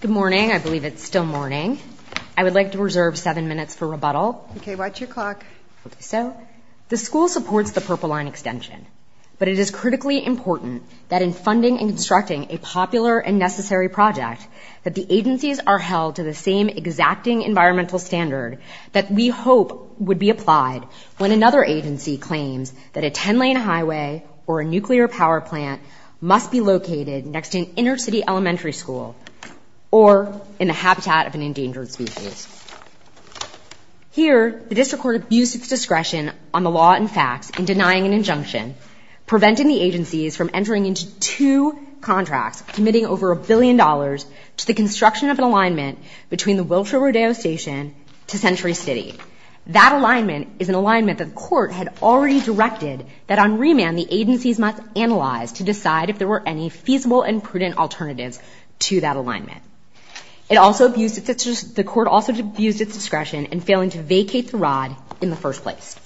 Good morning. I believe it's still morning. I would like to reserve seven minutes for rebuttal. Okay, watch your clock. So, the school supports the Purple Line extension, but it is critically important that in funding and constructing a popular and necessary project that the agencies are held to the same exacting environmental standard that we hope would be applied when another agency claims that a 10-lane highway or a nuclear power plant must be located next to an inner-city elementary school or in the habitat of an endangered species. Here, the district court abused its discretion on the law and facts in denying an injunction, preventing the agencies from entering into two contracts committing over a billion dollars to the construction of an alignment between the Wilshire-Rodeo Station to Century City. That alignment is an alignment that the court had already directed that on remand the agencies must analyze to decide if there were any feasible and prudent alternatives to that alignment. The court also abused its discretion in failing to vacate the rod in the first place.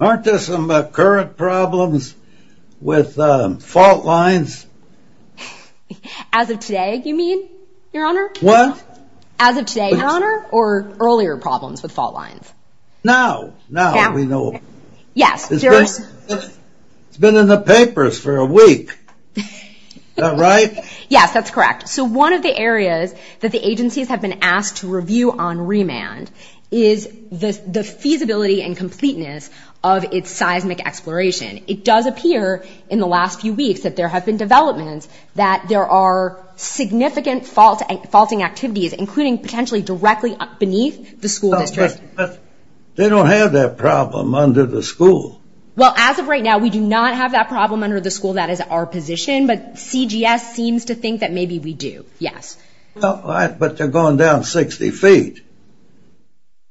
Aren't there some current problems with fault lines? As of today, you mean, Your Honor? What? As of today, Your Honor, or earlier problems with fault lines? Now, now we know. Yes. It's been in the papers for a week. Is that right? Yes, that's correct. So one of the areas that the agencies have been asked to review on remand is the feasibility and completeness of its seismic exploration. It does appear in the last few weeks that there have been developments that there are significant faulting activities, including potentially directly beneath the school district. But they don't have that problem under the school. Well, as of right now, we do not have that problem under the school. That is our position. But CGS seems to think that maybe we do, yes. But they're going down 60 feet.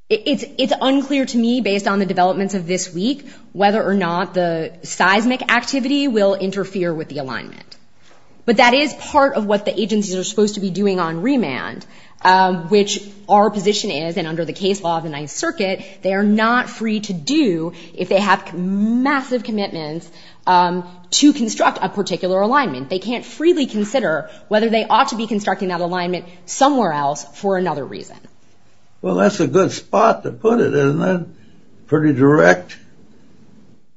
It's unclear to me, based on the developments of this week, whether or not the seismic activity will interfere with the alignment. But that is part of what the agencies are supposed to be doing on remand, which our position is, and under the case law of the Ninth Circuit, they are not free to do if they have massive commitments to construct a particular alignment. They can't freely consider whether they ought to be constructing that alignment somewhere else for another reason. Well, that's a good spot to put it, isn't it? Pretty direct.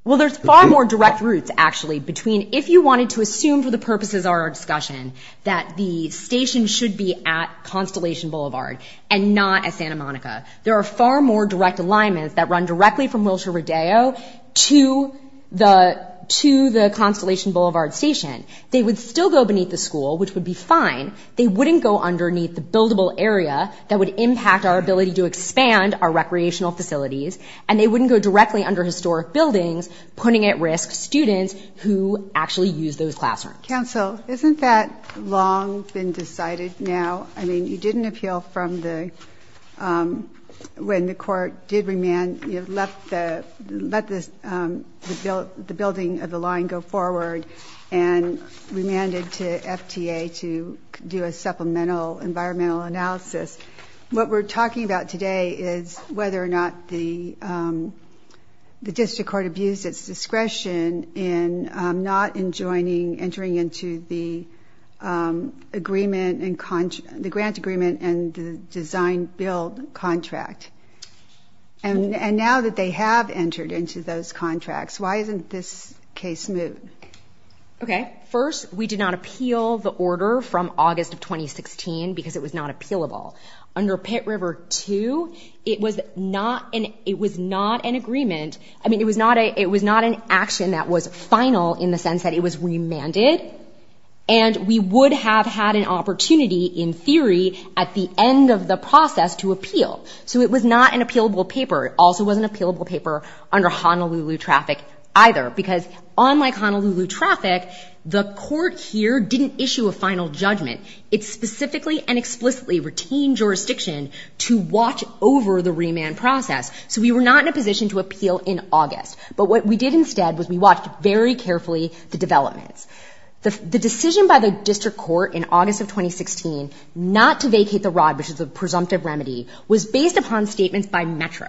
Well, there's far more direct routes, actually, between if you wanted to assume for the purposes of our discussion that the station should be at Constellation Boulevard and not at Santa Monica. There are far more direct alignments that run directly from Wilshire Rodeo to the Constellation Boulevard station. They would still go beneath the school, which would be fine. They wouldn't go underneath the buildable area that would impact our ability to expand our recreational facilities. And they wouldn't go directly under historic buildings, putting at risk students who actually use those classrooms. Counsel, isn't that long been decided now? I mean, you didn't appeal from the, when the court did remand, you let the building of the line go forward and remanded to FTA to do a supplemental environmental analysis. What we're talking about today is whether or not the district court abused its discretion in not entering into the grant agreement and the design-build contract. And now that they have entered into those contracts, why isn't this case moved? Okay. First, we did not appeal the order from August of 2016 because it was not appealable. Under Pitt River 2, it was not an agreement. I mean, it was not an action that was final in the sense that it was remanded. And we would have had an opportunity, in theory, at the end of the process to appeal. So it was not an appealable paper. It also wasn't an appealable paper under Honolulu traffic either because unlike Honolulu traffic, the court here didn't issue a final judgment. It specifically and explicitly retained jurisdiction to watch over the remand process. So we were not in a position to appeal in August. But what we did instead was we watched very carefully the developments. The decision by the district court in August of 2016 not to vacate the ROD, which is a presumptive remedy, was based upon statements by Metro.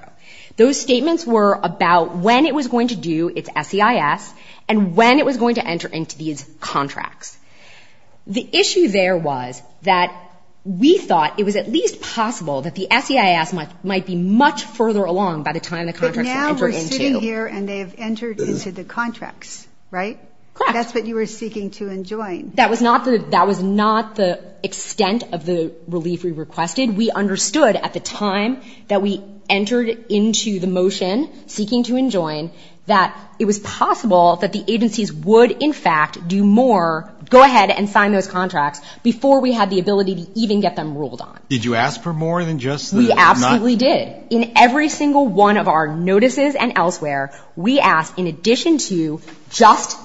Those statements were about when it was going to do its SEIS and when it was going to enter into these contracts. The issue there was that we thought it was at least possible that the SEIS might be much further along by the time the contracts entered into. But now we're sitting here and they have entered into the contracts, right? Correct. That's what you were seeking to enjoin. That was not the extent of the relief we requested. We understood at the time that we entered into the motion seeking to enjoin that it was possible that the agencies would, in fact, do more, go ahead and sign those contracts before we had the ability to even get them ruled on. Did you ask for more than just the not? We absolutely did. In every single one of our notices and elsewhere, we asked in addition to just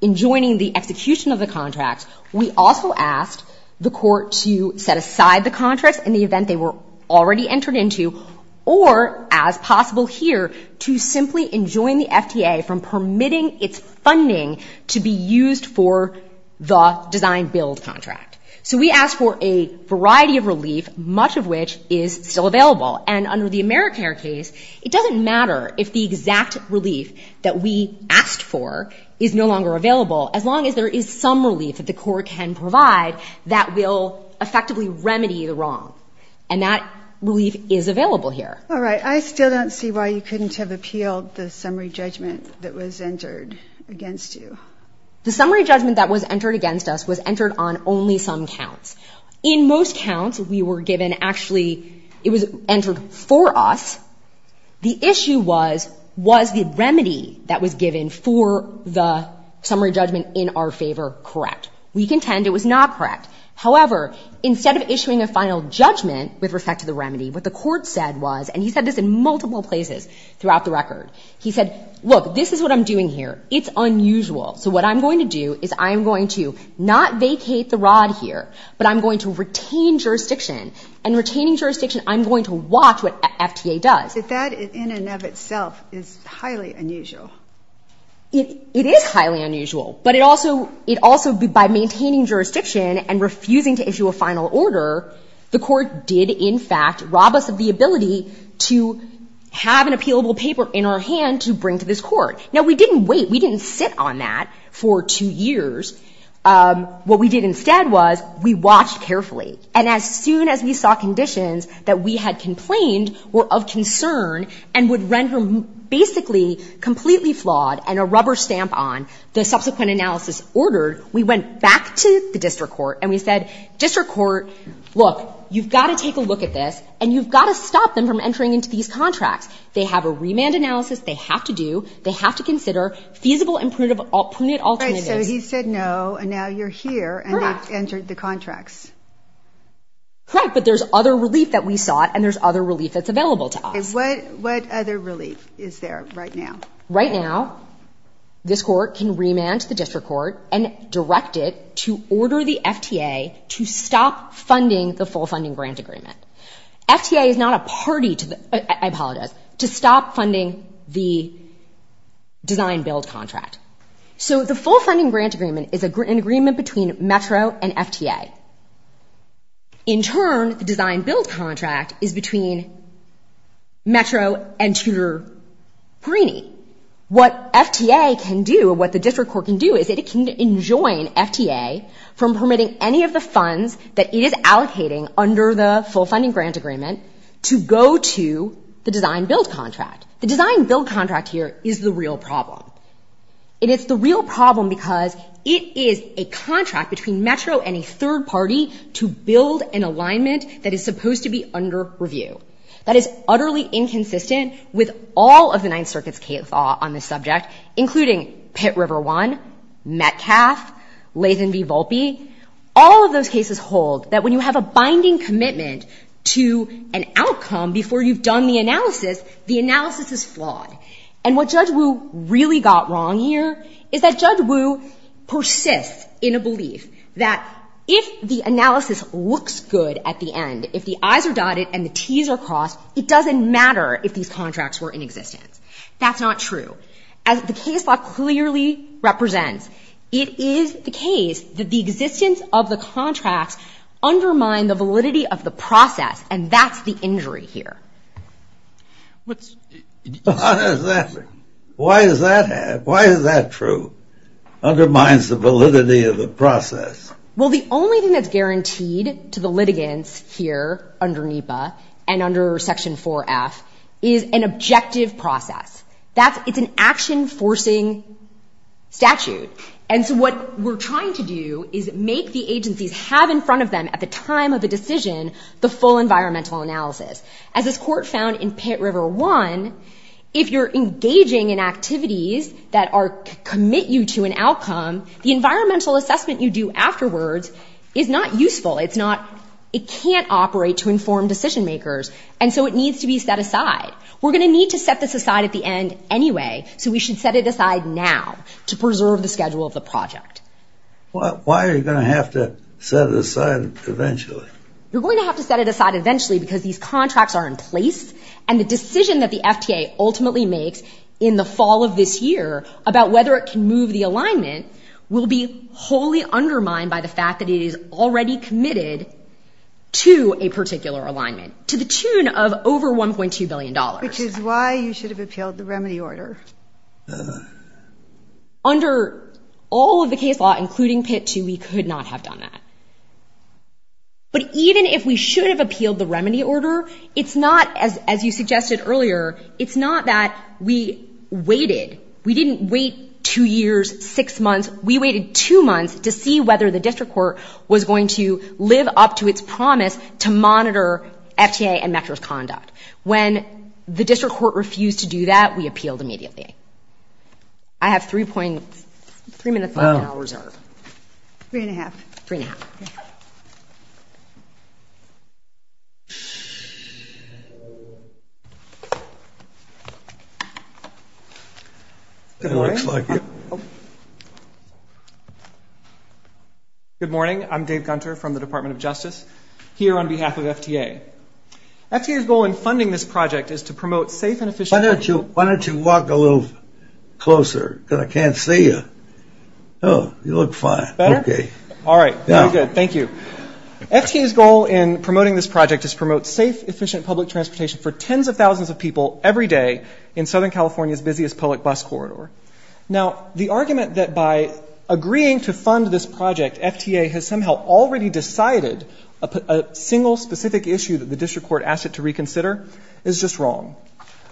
enjoining the execution of the contracts, we also asked the court to set aside the contracts in the event they were already entered into or, as possible here, to simply enjoin the FTA from permitting its funding to be used for the design-build contract. So we asked for a variety of relief, much of which is still available. And under the AmeriCare case, it doesn't matter if the exact relief that we asked for is no longer available as long as there is some relief that the court can provide that will effectively remedy the wrong. And that relief is available here. All right. I still don't see why you couldn't have appealed the summary judgment that was entered against you. The summary judgment that was entered against us was entered on only some counts. In most counts, we were given actually it was entered for us. The issue was, was the remedy that was given for the summary judgment in our favor correct? We contend it was not correct. However, instead of issuing a final judgment with respect to the remedy, what the court said was, and he said this in multiple places throughout the record, he said, look, this is what I'm doing here. It's unusual. So what I'm going to do is I'm going to not vacate the rod here, but I'm going to retain jurisdiction. And retaining jurisdiction, I'm going to watch what FTA does. But that in and of itself is highly unusual. It is highly unusual, but it also by maintaining jurisdiction and refusing to issue a final order, the court did in fact rob us of the ability to have an appealable paper in our hand to bring to this court. Now, we didn't wait. We didn't sit on that for two years. What we did instead was we watched carefully. And as soon as we saw conditions that we had complained were of concern and would render basically completely flawed and a rubber stamp on the subsequent analysis ordered, we went back to the district court and we said, district court, look, you've got to take a look at this and you've got to stop them from entering into these contracts. They have a remand analysis they have to do. They have to consider feasible and prudent alternatives. So he said no and now you're here and they've entered the contracts. Correct. But there's other relief that we sought and there's other relief that's available to us. What other relief is there right now? Right now, this court can remand to the district court and direct it to order the FTA to stop funding the full funding grant agreement. FTA is not a party to the, I apologize, to stop funding the design-build contract. So the full funding grant agreement is an agreement between Metro and FTA. In turn, the design-build contract is between Metro and Tudor-Perini. What FTA can do and what the district court can do is it can enjoin FTA from permitting any of the funds that it is allocating under the full funding grant agreement to go to the design-build contract. The design-build contract here is the real problem. And it's the real problem because it is a contract between Metro and a third party to build an alignment that is supposed to be under review. That is utterly inconsistent with all of the Ninth Circuit's case law on this subject, including Pitt River One, Metcalf, Latham v. Volpe. All of those cases hold that when you have a binding commitment to an outcome before you've done the analysis, the analysis is flawed. And what Judge Wu really got wrong here is that Judge Wu persists in a belief that if the analysis looks good at the end, if the I's are dotted and the T's are crossed, it doesn't matter if these contracts were in existence. That's not true. As the case law clearly represents, it is the case that the existence of the contracts undermine the validity of the process, and that's the injury here. Why is that? Why does that happen? Why is that true? Undermines the validity of the process. Well, the only thing that's guaranteed to the litigants here under NEPA and under Section 4F is an objective process. It's an action-forcing statute. And so what we're trying to do is make the agencies have in front of them at the time of the decision the full environmental analysis. As this court found in Pitt River 1, if you're engaging in activities that commit you to an outcome, the environmental assessment you do afterwards is not useful. It can't operate to inform decision-makers, and so it needs to be set aside. We're going to need to set this aside at the end anyway, so we should set it aside now to preserve the schedule of the project. Why are you going to have to set it aside eventually? You're going to have to set it aside eventually because these contracts are in place, and the decision that the FTA ultimately makes in the fall of this year about whether it can move the alignment will be wholly undermined by the fact that it is already committed to a particular alignment to the tune of over $1.2 billion. Which is why you should have appealed the remedy order. Under all of the case law, including Pitt 2, we could not have done that. But even if we should have appealed the remedy order, it's not, as you suggested earlier, it's not that we waited. We didn't wait two years, six months. We waited two months to see whether the district court was going to live up to its promise to monitor FTA and Metro's conduct. When the district court refused to do that, we appealed immediately. I have three minutes left and I'll reserve. Three and a half. Three and a half. Good morning. I'm Dave Gunter from the Department of Justice. Here on behalf of FTA. FTA's goal in funding this project is to promote safe and efficient. Why don't you walk a little closer? Because I can't see you. You look fine. Better? All right. Very good. Thank you. FTA's goal in promoting this project is to promote safe, efficient public transportation for tens of thousands of people every day in Southern California's busiest public bus corridor. Now, the argument that by agreeing to fund this project, FTA has somehow already decided a single specific issue that the district court asked it to reconsider is just wrong.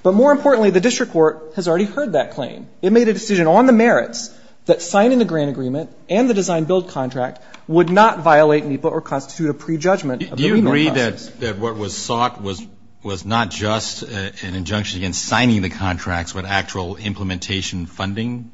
But more importantly, the district court has already heard that claim. It made a decision on the merits that signing the grant agreement and the design-build contract would not violate NEPA or constitute a prejudgment of the NEPA process. Do you agree that what was sought was not just an injunction against signing the contracts, but actual implementation funding?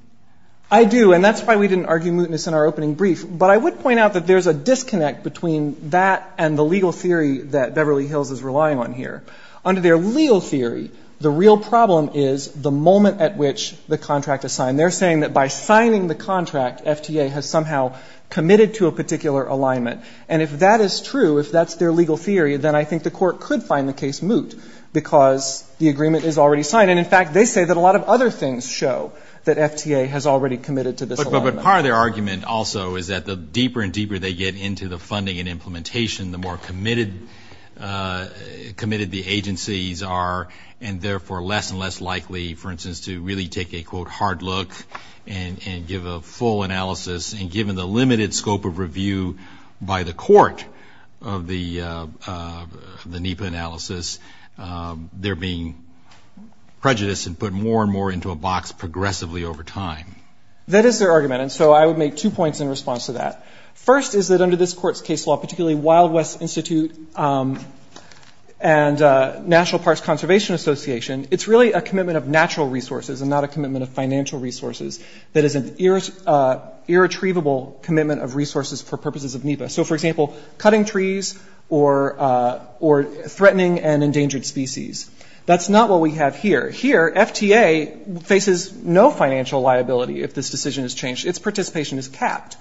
I do. And that's why we didn't argue mootness in our opening brief. But I would point out that there's a disconnect between that and the legal theory that Beverly Hills is relying on here. Under their legal theory, the real problem is the moment at which the contract is signed. They're saying that by signing the contract, FTA has somehow committed to a particular alignment. And if that is true, if that's their legal theory, then I think the court could find the case moot because the agreement is already signed. And, in fact, they say that a lot of other things show that FTA has already committed to this alignment. But part of their argument also is that the deeper and deeper they get into the funding and implementation, the more committed the agencies are and therefore less and less likely, for instance, to really take a, quote, hard look and give a full analysis. And given the limited scope of review by the court of the NEPA analysis, they're being prejudiced and put more and more into a box progressively over time. That is their argument. And so I would make two points in response to that. First is that under this court's case law, particularly Wild West Institute and National Parks Conservation Association, it's really a commitment of natural resources and not a commitment of financial resources that is an irretrievable commitment of resources for purposes of NEPA. So, for example, cutting trees or threatening and endangered species. That's not what we have here. Here, FTA faces no financial liability if this decision is changed. Its participation is capped.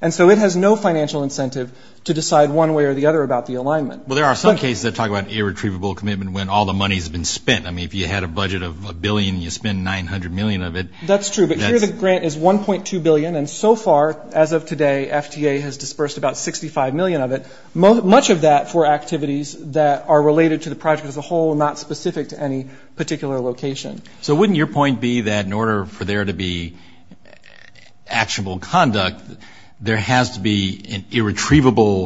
And so it has no financial incentive to decide one way or the other about the alignment. Well, there are some cases that talk about irretrievable commitment when all the money has been spent. I mean, if you had a budget of $1 billion and you spend $900 million of it. That's true. But here the grant is $1.2 billion. And so far, as of today, FTA has dispersed about $65 million of it, much of that for activities that are related to the project as a whole and not specific to any particular location. So wouldn't your point be that in order for there to be actionable conduct, there has to be an irretrievable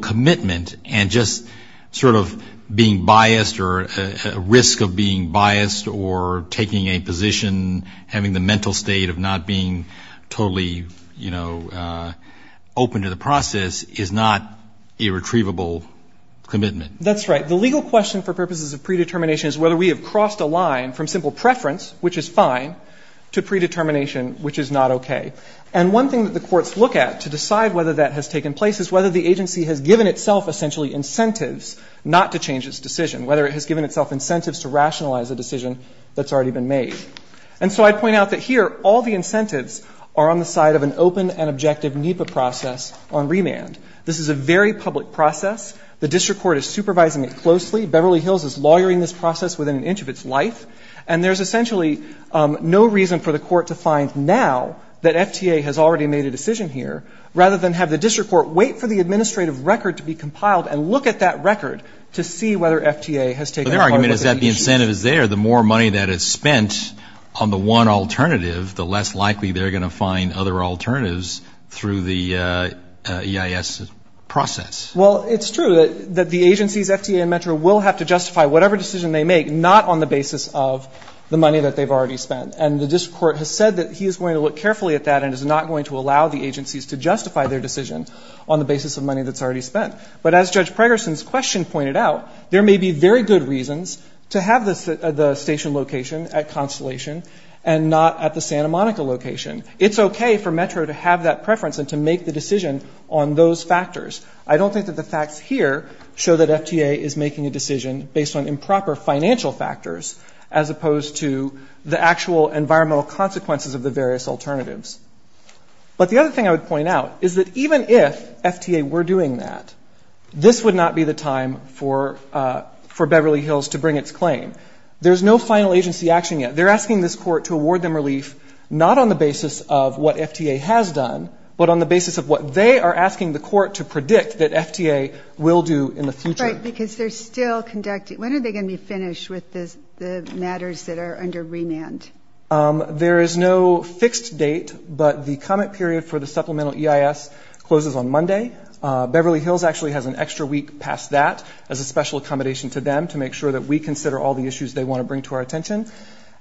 commitment and just sort of being biased or a risk of being biased or taking a position, having the mental state of not being totally open to the process is not irretrievable commitment? That's right. The legal question for purposes of predetermination is whether we have crossed a line from simple preference, which is fine, to predetermination, which is not okay. And one thing that the courts look at to decide whether that has taken place is whether the agency has given itself essentially incentives not to change its decision, whether it has given itself incentives to rationalize a decision that's already been made. And so I'd point out that here all the incentives are on the side of an open and objective NEPA process on remand. This is a very public process. The district court is supervising it closely. Beverly Hills is lawyering this process within an inch of its life. And there's essentially no reason for the court to find now that FTA has already made a decision here rather than have the district court wait for the administrative record to be compiled and look at that record to see whether FTA has taken part of the issues. But their argument is that the incentive is there. The more money that is spent on the one alternative, the less likely they're going to find other alternatives through the EIS process. Well, it's true that the agencies, FTA and Metro, will have to justify whatever decision they make not on the basis of the money that they've already spent. And the district court has said that he is going to look carefully at that and is not going to allow the agencies to justify their decision on the basis of money that's already spent. But as Judge Pregerson's question pointed out, there may be very good reasons to have the station location at Constellation and not at the Santa Monica location. It's okay for Metro to have that preference and to make the decision on those factors. I don't think that the facts here show that FTA is making a decision based on improper financial factors as opposed to the actual environmental consequences of the various alternatives. But the other thing I would point out is that even if FTA were doing that, this would not be the time for Beverly Hills to bring its claim. There's no final agency action yet. They're asking this court to award them relief not on the basis of what FTA has done, but on the basis of what they are asking the court to predict that FTA will do in the future. Right, because they're still conducting. When are they going to be finished with the matters that are under remand? There is no fixed date, but the comment period for the supplemental EIS closes on Monday. Beverly Hills actually has an extra week past that as a special accommodation to them to make sure that we consider all the issues they want to bring to our attention.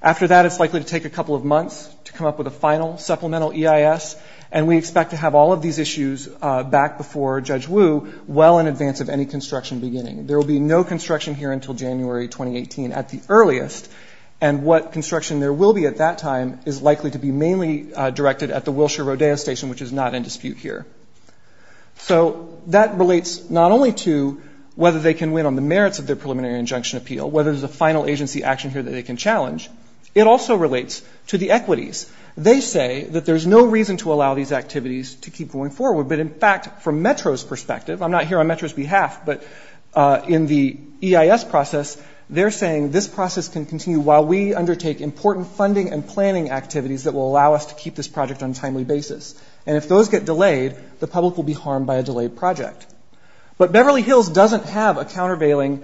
After that, it's likely to take a couple of months to come up with a final supplemental EIS, and we expect to have all of these issues back before Judge Wu well in advance of any construction beginning. There will be no construction here until January 2018 at the earliest, and what construction there will be at that time is likely to be mainly directed at the Wilshire Rodeo Station, which is not in dispute here. So that relates not only to whether they can win on the merits of their preliminary injunction appeal, whether there's a final agency action here that they can challenge, it also relates to the equities. They say that there's no reason to allow these activities to keep going forward, but in fact, from METRO's perspective, I'm not here on METRO's behalf, but in the EIS process, they're saying this process can continue while we undertake important funding and planning activities that will allow us to keep this project on a timely basis. And if those get delayed, the public will be harmed by a delayed project. But Beverly Hills doesn't have a countervailing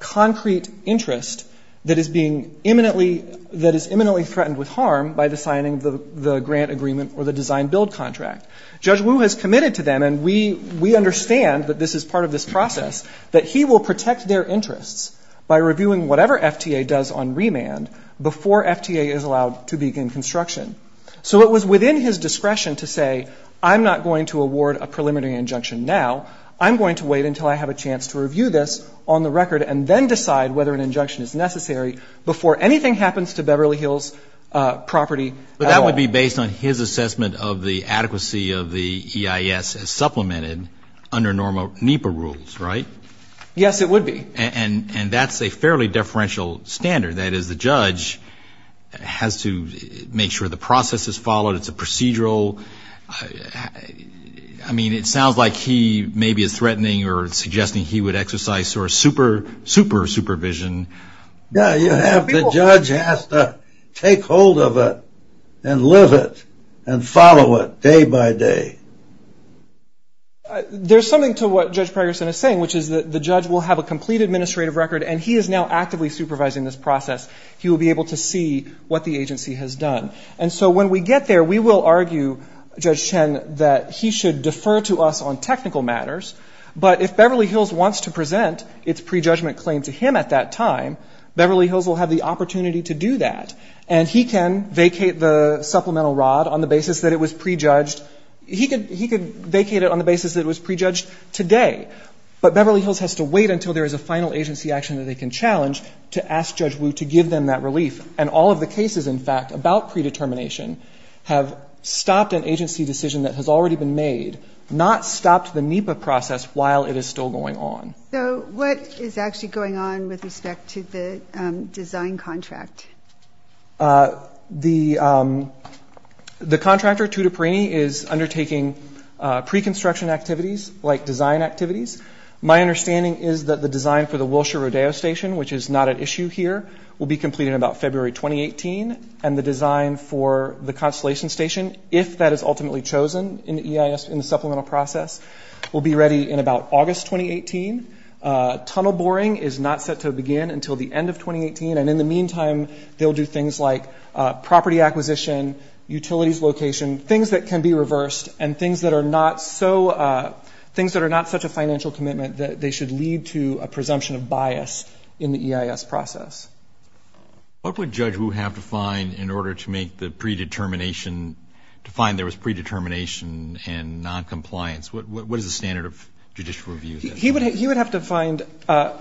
concrete interest that is being imminently threatened with harm by the signing of the grant agreement or the design-build contract. Judge Wu has committed to them, and we understand that this is part of this process, that he will protect their interests by reviewing whatever FTA does on remand before FTA is allowed to begin construction. So it was within his discretion to say, I'm not going to award a preliminary injunction now. I'm going to wait until I have a chance to review this on the record and then decide whether an injunction is necessary That would be based on his assessment of the adequacy of the EIS as supplemented under normal NEPA rules, right? Yes, it would be. And that's a fairly differential standard. That is, the judge has to make sure the process is followed. It's a procedural. I mean, it sounds like he maybe is threatening or suggesting he would exercise super supervision. Yeah, the judge has to take hold of it and live it and follow it day by day. There's something to what Judge Pragerson is saying, which is that the judge will have a complete administrative record, and he is now actively supervising this process. He will be able to see what the agency has done. And so when we get there, we will argue, Judge Chen, that he should defer to us on technical matters. But if Beverly Hills wants to present its prejudgment claim to him at that time, Beverly Hills will have the opportunity to do that. And he can vacate the supplemental rod on the basis that it was prejudged. He could vacate it on the basis that it was prejudged today. But Beverly Hills has to wait until there is a final agency action that they can challenge to ask Judge Wu to give them that relief. And all of the cases, in fact, about predetermination have stopped an agency decision that has already been made, not stopped the NEPA process while it is still going on. So what is actually going on with respect to the design contract? The contractor, Tutiparini, is undertaking pre-construction activities, like design activities. My understanding is that the design for the Wilshire-Rodeo Station, which is not at issue here, will be completed in about February 2018, and the design for the Constellation Station, if that is ultimately chosen in the EIS, in the supplemental process, will be ready in about August 2018. Tunnel boring is not set to begin until the end of 2018. And in the meantime, they'll do things like property acquisition, utilities location, things that can be reversed, and things that are not so – things that are not such a financial commitment that they should lead to a presumption of bias in the EIS process. What would Judge Wu have to find in order to make the predetermination – to find there was predetermination and noncompliance? What is the standard of judicial review? He would have to find – well,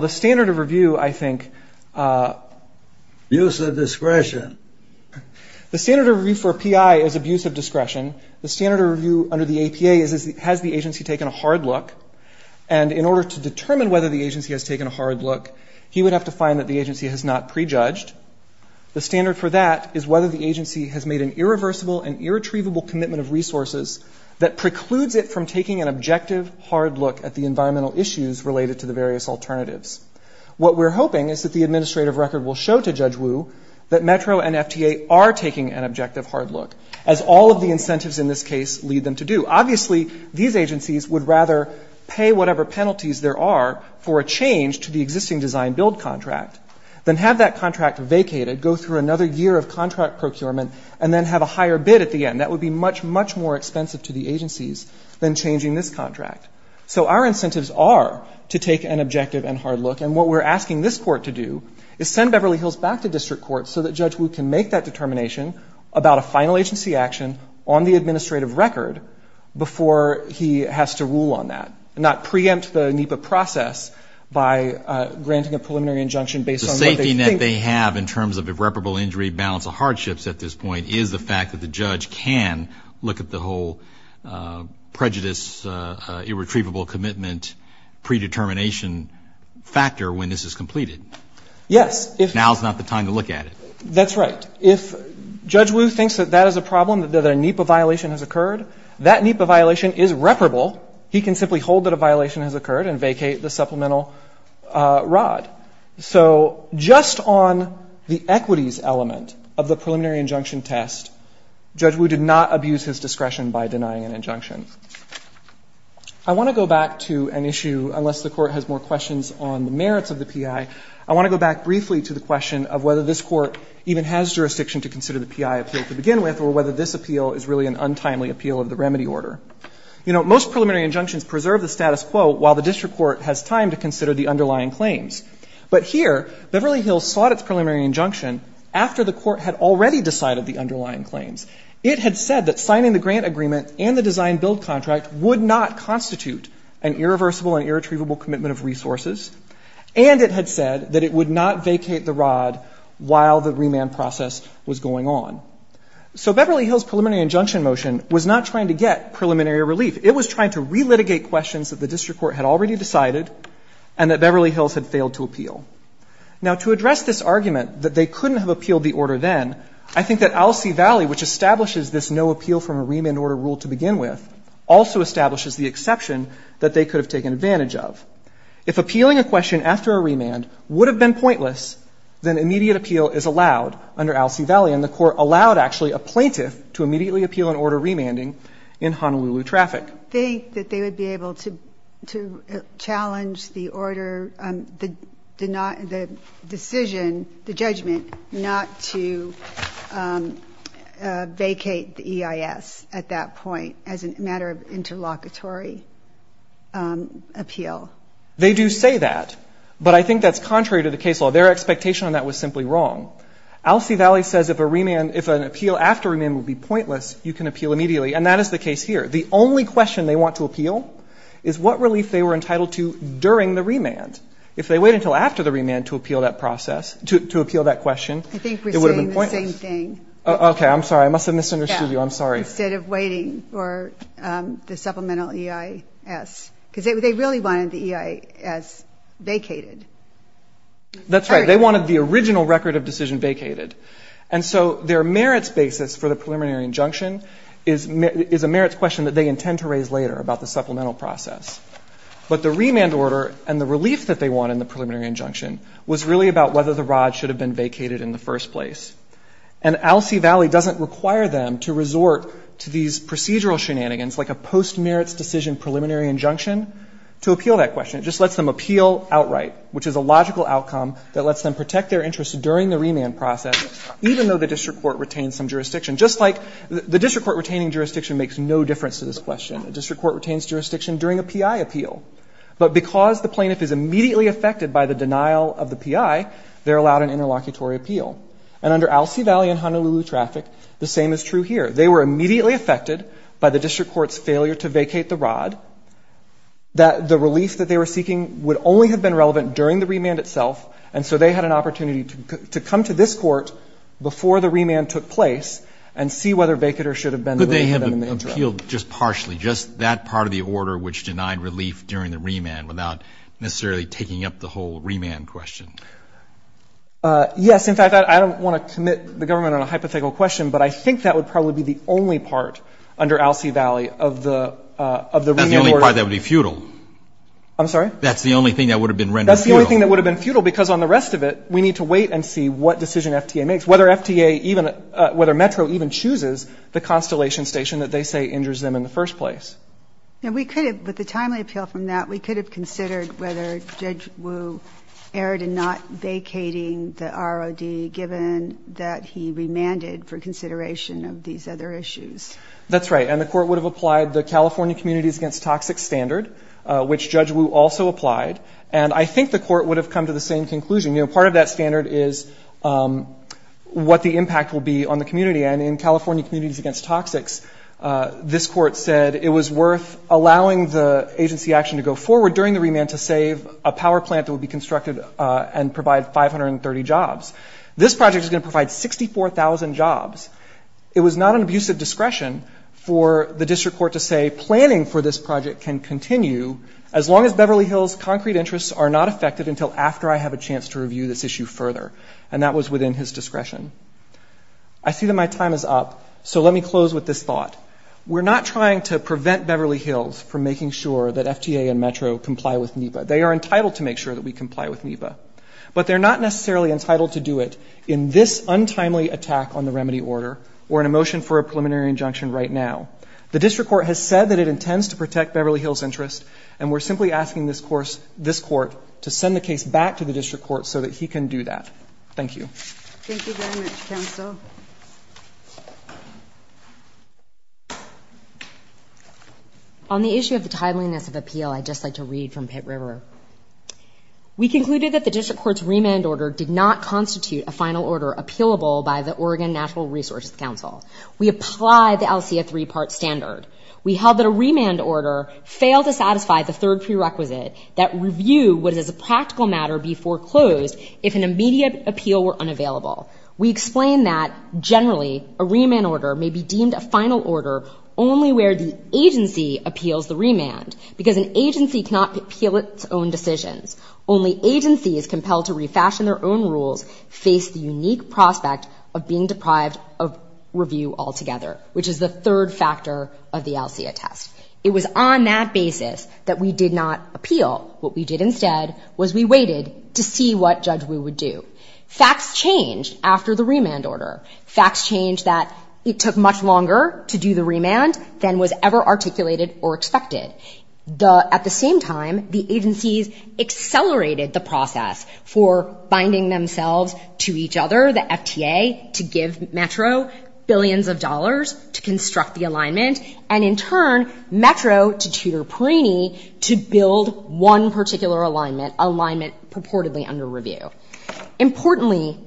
the standard of review, I think – Abuse of discretion. The standard of review for a PI is abuse of discretion. The standard of review under the APA is, has the agency taken a hard look? And in order to determine whether the agency has taken a hard look, he would have to find that the agency has not prejudged. The standard for that is whether the agency has made an irreversible and irretrievable commitment of resources that precludes it from taking an objective hard look at the environmental issues related to the various alternatives. What we're hoping is that the administrative record will show to Judge Wu that METRO and FTA are taking an objective hard look, as all of the incentives in this case lead them to do. Obviously, these agencies would rather pay whatever penalties there are for a change to the existing design-build contract than have that contract vacated, go through another year of contract procurement, and then have a higher bid at the end. That would be much, much more expensive to the agencies than changing this contract. So our incentives are to take an objective and hard look. And what we're asking this Court to do is send Beverly Hills back to district court so that Judge Wu can make that determination about a final agency action on the administrative record before he has to rule on that, not preempt the NEPA process by granting a preliminary injunction based on what they think. The safety net they have in terms of irreparable injury balance of hardships at this point is the fact that the judge can look at the whole prejudice, irretrievable commitment, predetermination factor when this is completed. Yes. Now is not the time to look at it. That's right. If Judge Wu thinks that that is a problem, that a NEPA violation has occurred, that NEPA violation is reparable. He can simply hold that a violation has occurred and vacate the supplemental rod. So just on the equities element of the preliminary injunction test, Judge Wu did not abuse his discretion by denying an injunction. I want to go back to an issue, unless the Court has more questions on the merits of the PI, I want to go back briefly to the question of whether this Court even has jurisdiction to consider the PI appeal to begin with or whether this appeal is really an untimely appeal of the remedy order. You know, most preliminary injunctions preserve the status quo while the district court has time to consider the underlying claims. But here, Beverly Hills sought its preliminary injunction after the Court had already decided the underlying claims. It had said that signing the grant agreement and the design-build contract would not constitute an irreversible and irretrievable commitment of resources, and it had said that it would not vacate the rod while the remand process was going on. So Beverly Hills' preliminary injunction motion was not trying to get preliminary relief. It was trying to relitigate questions that the district court had already decided and that Beverly Hills had failed to appeal. Now, to address this argument that they couldn't have appealed the order then, I think that Alcee Valley, which establishes this no appeal from a remand order rule to begin with, also establishes the exception that they could have taken advantage of. If appealing a question after a remand would have been pointless, then immediate appeal is allowed under Alcee Valley, and the Court allowed actually a plaintiff to immediately appeal an order remanding in Honolulu traffic. I don't think that they would be able to challenge the order, the decision, the judgment not to vacate the EIS at that point as a matter of interlocutory appeal. They do say that, but I think that's contrary to the case law. Their expectation on that was simply wrong. Alcee Valley says if a remand, if an appeal after a remand would be pointless, you can appeal immediately, and that is the case here. The only question they want to appeal is what relief they were entitled to during the remand. If they wait until after the remand to appeal that process, to appeal that question, it would have been pointless. I think we're saying the same thing. Okay. I'm sorry. I must have misunderstood you. I'm sorry. Instead of waiting for the supplemental EIS, because they really wanted the EIS vacated. That's right. They wanted the original record of decision vacated. And so their merits basis for the preliminary injunction is a merits question that they intend to raise later about the supplemental process. But the remand order and the relief that they want in the preliminary injunction was really about whether the rod should have been vacated in the first place. And Alcee Valley doesn't require them to resort to these procedural shenanigans like a post-merits decision preliminary injunction to appeal that question. It just lets them appeal outright, which is a logical outcome that lets them protect their interests during the remand process, even though the district court retains some jurisdiction. Just like the district court retaining jurisdiction makes no difference to this question. The district court retains jurisdiction during a PI appeal. But because the plaintiff is immediately affected by the denial of the PI, they're allowed an interlocutory appeal. And under Alcee Valley and Honolulu traffic, the same is true here. They were immediately affected by the district court's failure to vacate the rod. The relief that they were seeking would only have been relevant during the remand itself. And so they had an opportunity to come to this court before the remand took place and see whether vacater should have been the remand. But they have appealed just partially, just that part of the order which denied relief during the remand without necessarily taking up the whole remand question. Yes. In fact, I don't want to commit the government on a hypothetical question, but I think that would probably be the only part under Alcee Valley of the remand order. That's the only part that would be futile. I'm sorry? That's the only thing that would have been rendered futile. That's the only thing that would have been futile, because on the rest of it, we need to wait and see what decision FTA makes, whether FTA even ‑‑ whether Metro even chooses the Constellation Station that they say injures them in the first place. And we could have, with the timely appeal from that, we could have considered whether Judge Wu erred in not vacating the ROD, given that he remanded for consideration of these other issues. That's right. And the court would have applied the California Communities Against Toxics standard, which Judge Wu also applied. And I think the court would have come to the same conclusion. You know, part of that standard is what the impact will be on the community. And in California Communities Against Toxics, this court said it was worth allowing the agency action to go forward during the remand to save a power plant that would be constructed and provide 530 jobs. This project is going to provide 64,000 jobs. It was not an abusive discretion for the district court to say planning for this project can continue as long as Beverly Hills concrete interests are not affected until after I have a chance to review this issue further. And that was within his discretion. I see that my time is up, so let me close with this thought. We're not trying to prevent Beverly Hills from making sure that FTA and Metro comply with NEPA. They are entitled to make sure that we comply with NEPA. But they're not necessarily entitled to do it in this untimely attack on the remedy order or in a motion for a preliminary injunction right now. The district court has said that it intends to protect Beverly Hills' interest, and we're simply asking this court to send the case back to the district court so that he can do that. Thank you. Thank you very much, counsel. On the issue of the tideliness of appeal, I'd just like to read from Pitt River. We concluded that the district court's remand order did not constitute a final order appealable by the Oregon Natural Resources Council. We apply the LCA three-part standard. We held that a remand order failed to satisfy the third prerequisite, that review would, as a practical matter, be foreclosed if an immediate appeal were unavailable. We explain that, generally, a remand order may be deemed a final order only where the agency appeals the remand, because an agency cannot appeal its own decisions. Only agencies compelled to refashion their own rules face the unique prospect of being deprived of review altogether, which is the third factor of the LCA test. It was on that basis that we did not appeal. What we did instead was we waited to see what Judge Wu would do. Facts changed after the remand order. Facts changed that it took much longer to do the remand than was ever articulated or expected. At the same time, the agencies accelerated the process for binding themselves to each other, the FTA, to give Metro billions of dollars to construct the alignment, and in turn, Metro to Tudor Perini to build one particular alignment, alignment purportedly under review. Importantly,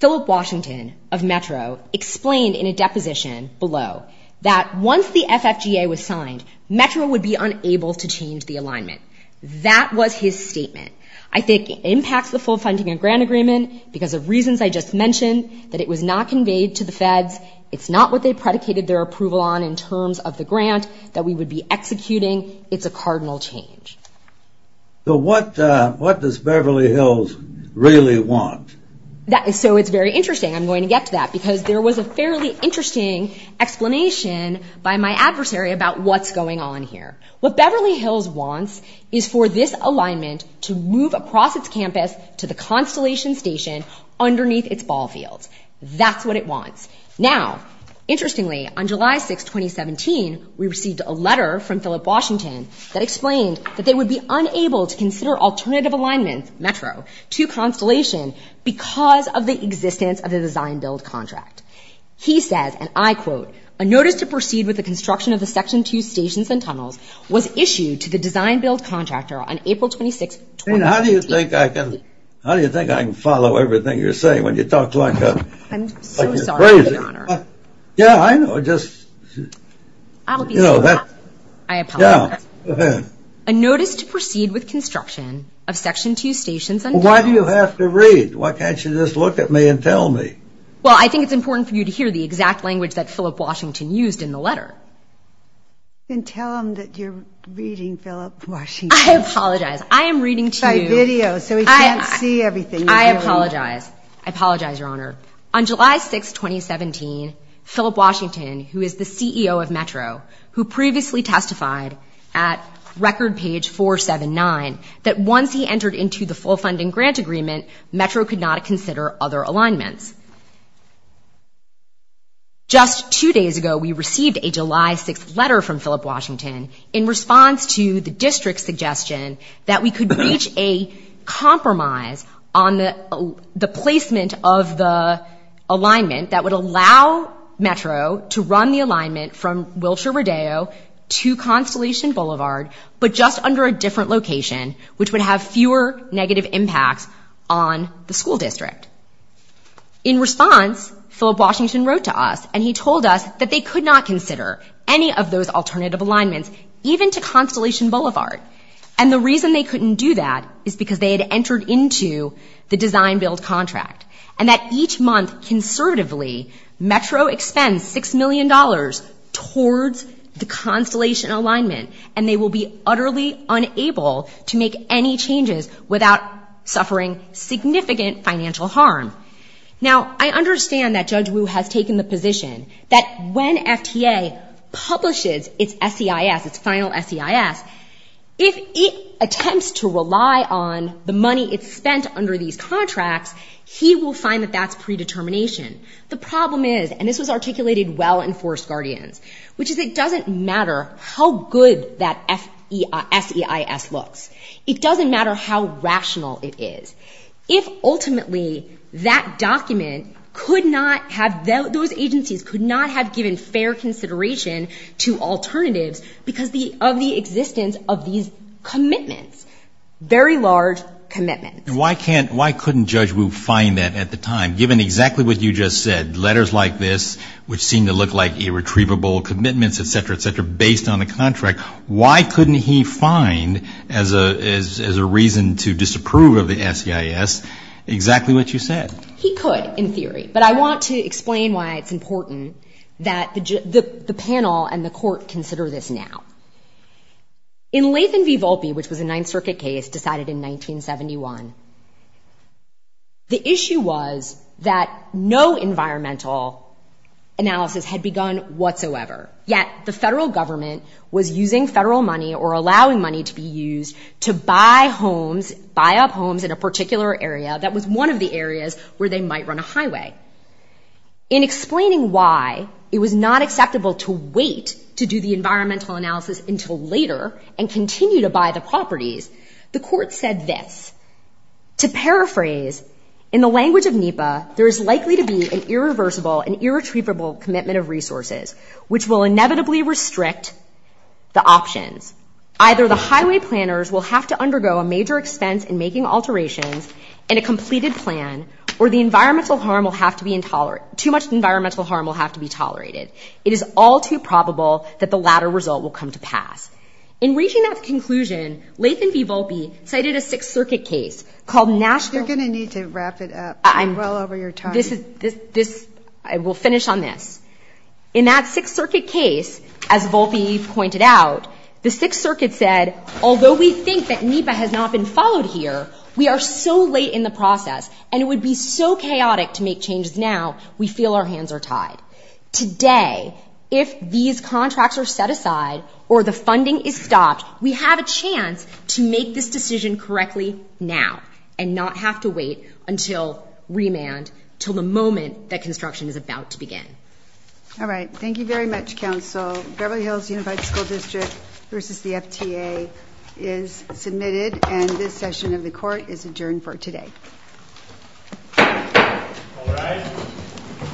Philip Washington of Metro explained in a deposition below that once the FFGA was signed, Metro would be unable to change the alignment. That was his statement. I think it impacts the full funding of grant agreement because of reasons I just mentioned, that it was not conveyed to the feds. It's not what they predicated their approval on in terms of the grant that we would be executing. It's a cardinal change. So what does Beverly Hills really want? So it's very interesting. I'm going to get to that because there was a fairly interesting explanation by my adversary about what's going on here. What Beverly Hills wants is for this alignment to move across its campus to the Constellation Station underneath its ball fields. That's what it wants. Now, interestingly, on July 6, 2017, we received a letter from Philip Washington that explained that they would be unable to consider alternative alignments, Metro, to Constellation because of the existence of the design-build contract. He says, and I quote, A notice to proceed with the construction of the Section 2 stations and tunnels was issued to the design-build contractor on April 26, 2018. How do you think I can follow everything you're saying when you talk like you're crazy? I'm so sorry, Your Honor. Yeah, I know. I'll be so happy. I apologize. Yeah. A notice to proceed with construction of Section 2 stations and tunnels. Why do you have to read? Why can't you just look at me and tell me? Well, I think it's important for you to hear the exact language that Philip Washington used in the letter. Then tell him that you're reading Philip Washington. I apologize. I am reading to you. By video, so he can't see everything. I apologize. I apologize, Your Honor. On July 6, 2017, Philip Washington, who is the CEO of Metro, who previously testified at record page 479, that once he entered into the full funding grant agreement, Metro could not consider other alignments. Just two days ago, we received a July 6 letter from Philip Washington in response to the district's suggestion that we could reach a compromise on the placement of the alignment that would allow Metro to run the alignment from Wilshire Rodeo to Constellation Boulevard, but just under a different location, which would have fewer negative impacts on the school district. In response, Philip Washington wrote to us, and he told us that they could not consider any of those alternative alignments, even to Constellation Boulevard, and the reason they couldn't do that is because they had entered into the design-build contract, and that each month, conservatively, Metro expends $6 million towards the Constellation alignment, and they will be utterly unable to make any changes without suffering significant financial harm. Now, I understand that Judge Wu has taken the position that when FTA publishes its SEIS, its final SEIS, if it attempts to rely on the money it's spent under these contracts, he will find that that's predetermination. The problem is, and this was articulated well in Forest Guardians, which is it doesn't matter how good that SEIS looks. It doesn't matter how rational it is. If ultimately that document could not have, those agencies could not have given fair consideration to alternatives because of the existence of these commitments, very large commitments. Why couldn't Judge Wu find that at the time, given exactly what you just said, letters like this, which seem to look like irretrievable commitments, et cetera, et cetera, based on the contract? Why couldn't he find, as a reason to disapprove of the SEIS, exactly what you said? He could, in theory, but I want to explain why it's important that the panel and the court consider this now. In Latham v. Volpe, which was a Ninth Circuit case decided in 1971, the issue was that no environmental analysis had begun whatsoever, yet the federal government was using federal money or allowing money to be used to buy homes, buy up homes in a particular area that was one of the areas where they might run a highway. In explaining why it was not acceptable to wait to do the environmental analysis until later and continue to buy the properties, the court said this, to paraphrase, in the language of NEPA, there is likely to be an irreversible and irretrievable commitment of resources, which will inevitably restrict the options. Either the highway planners will have to undergo a major expense in making alterations in a completed plan, or the environmental harm will have to be intolerant, too much environmental harm will have to be tolerated. It is all too probable that the latter result will come to pass. In reaching that conclusion, Latham v. Volpe cited a Sixth Circuit case called National- and we'll finish on this. In that Sixth Circuit case, as Volpe pointed out, the Sixth Circuit said, although we think that NEPA has not been followed here, we are so late in the process, and it would be so chaotic to make changes now, we feel our hands are tied. Today, if these contracts are set aside or the funding is stopped, we have a chance to make this decision correctly now and not have to wait until remand, until the moment that construction is about to begin. All right. Thank you very much, Counsel. Beverly Hills Unified School District v. the FTA is submitted, and this session of the Court is adjourned for today. All rise.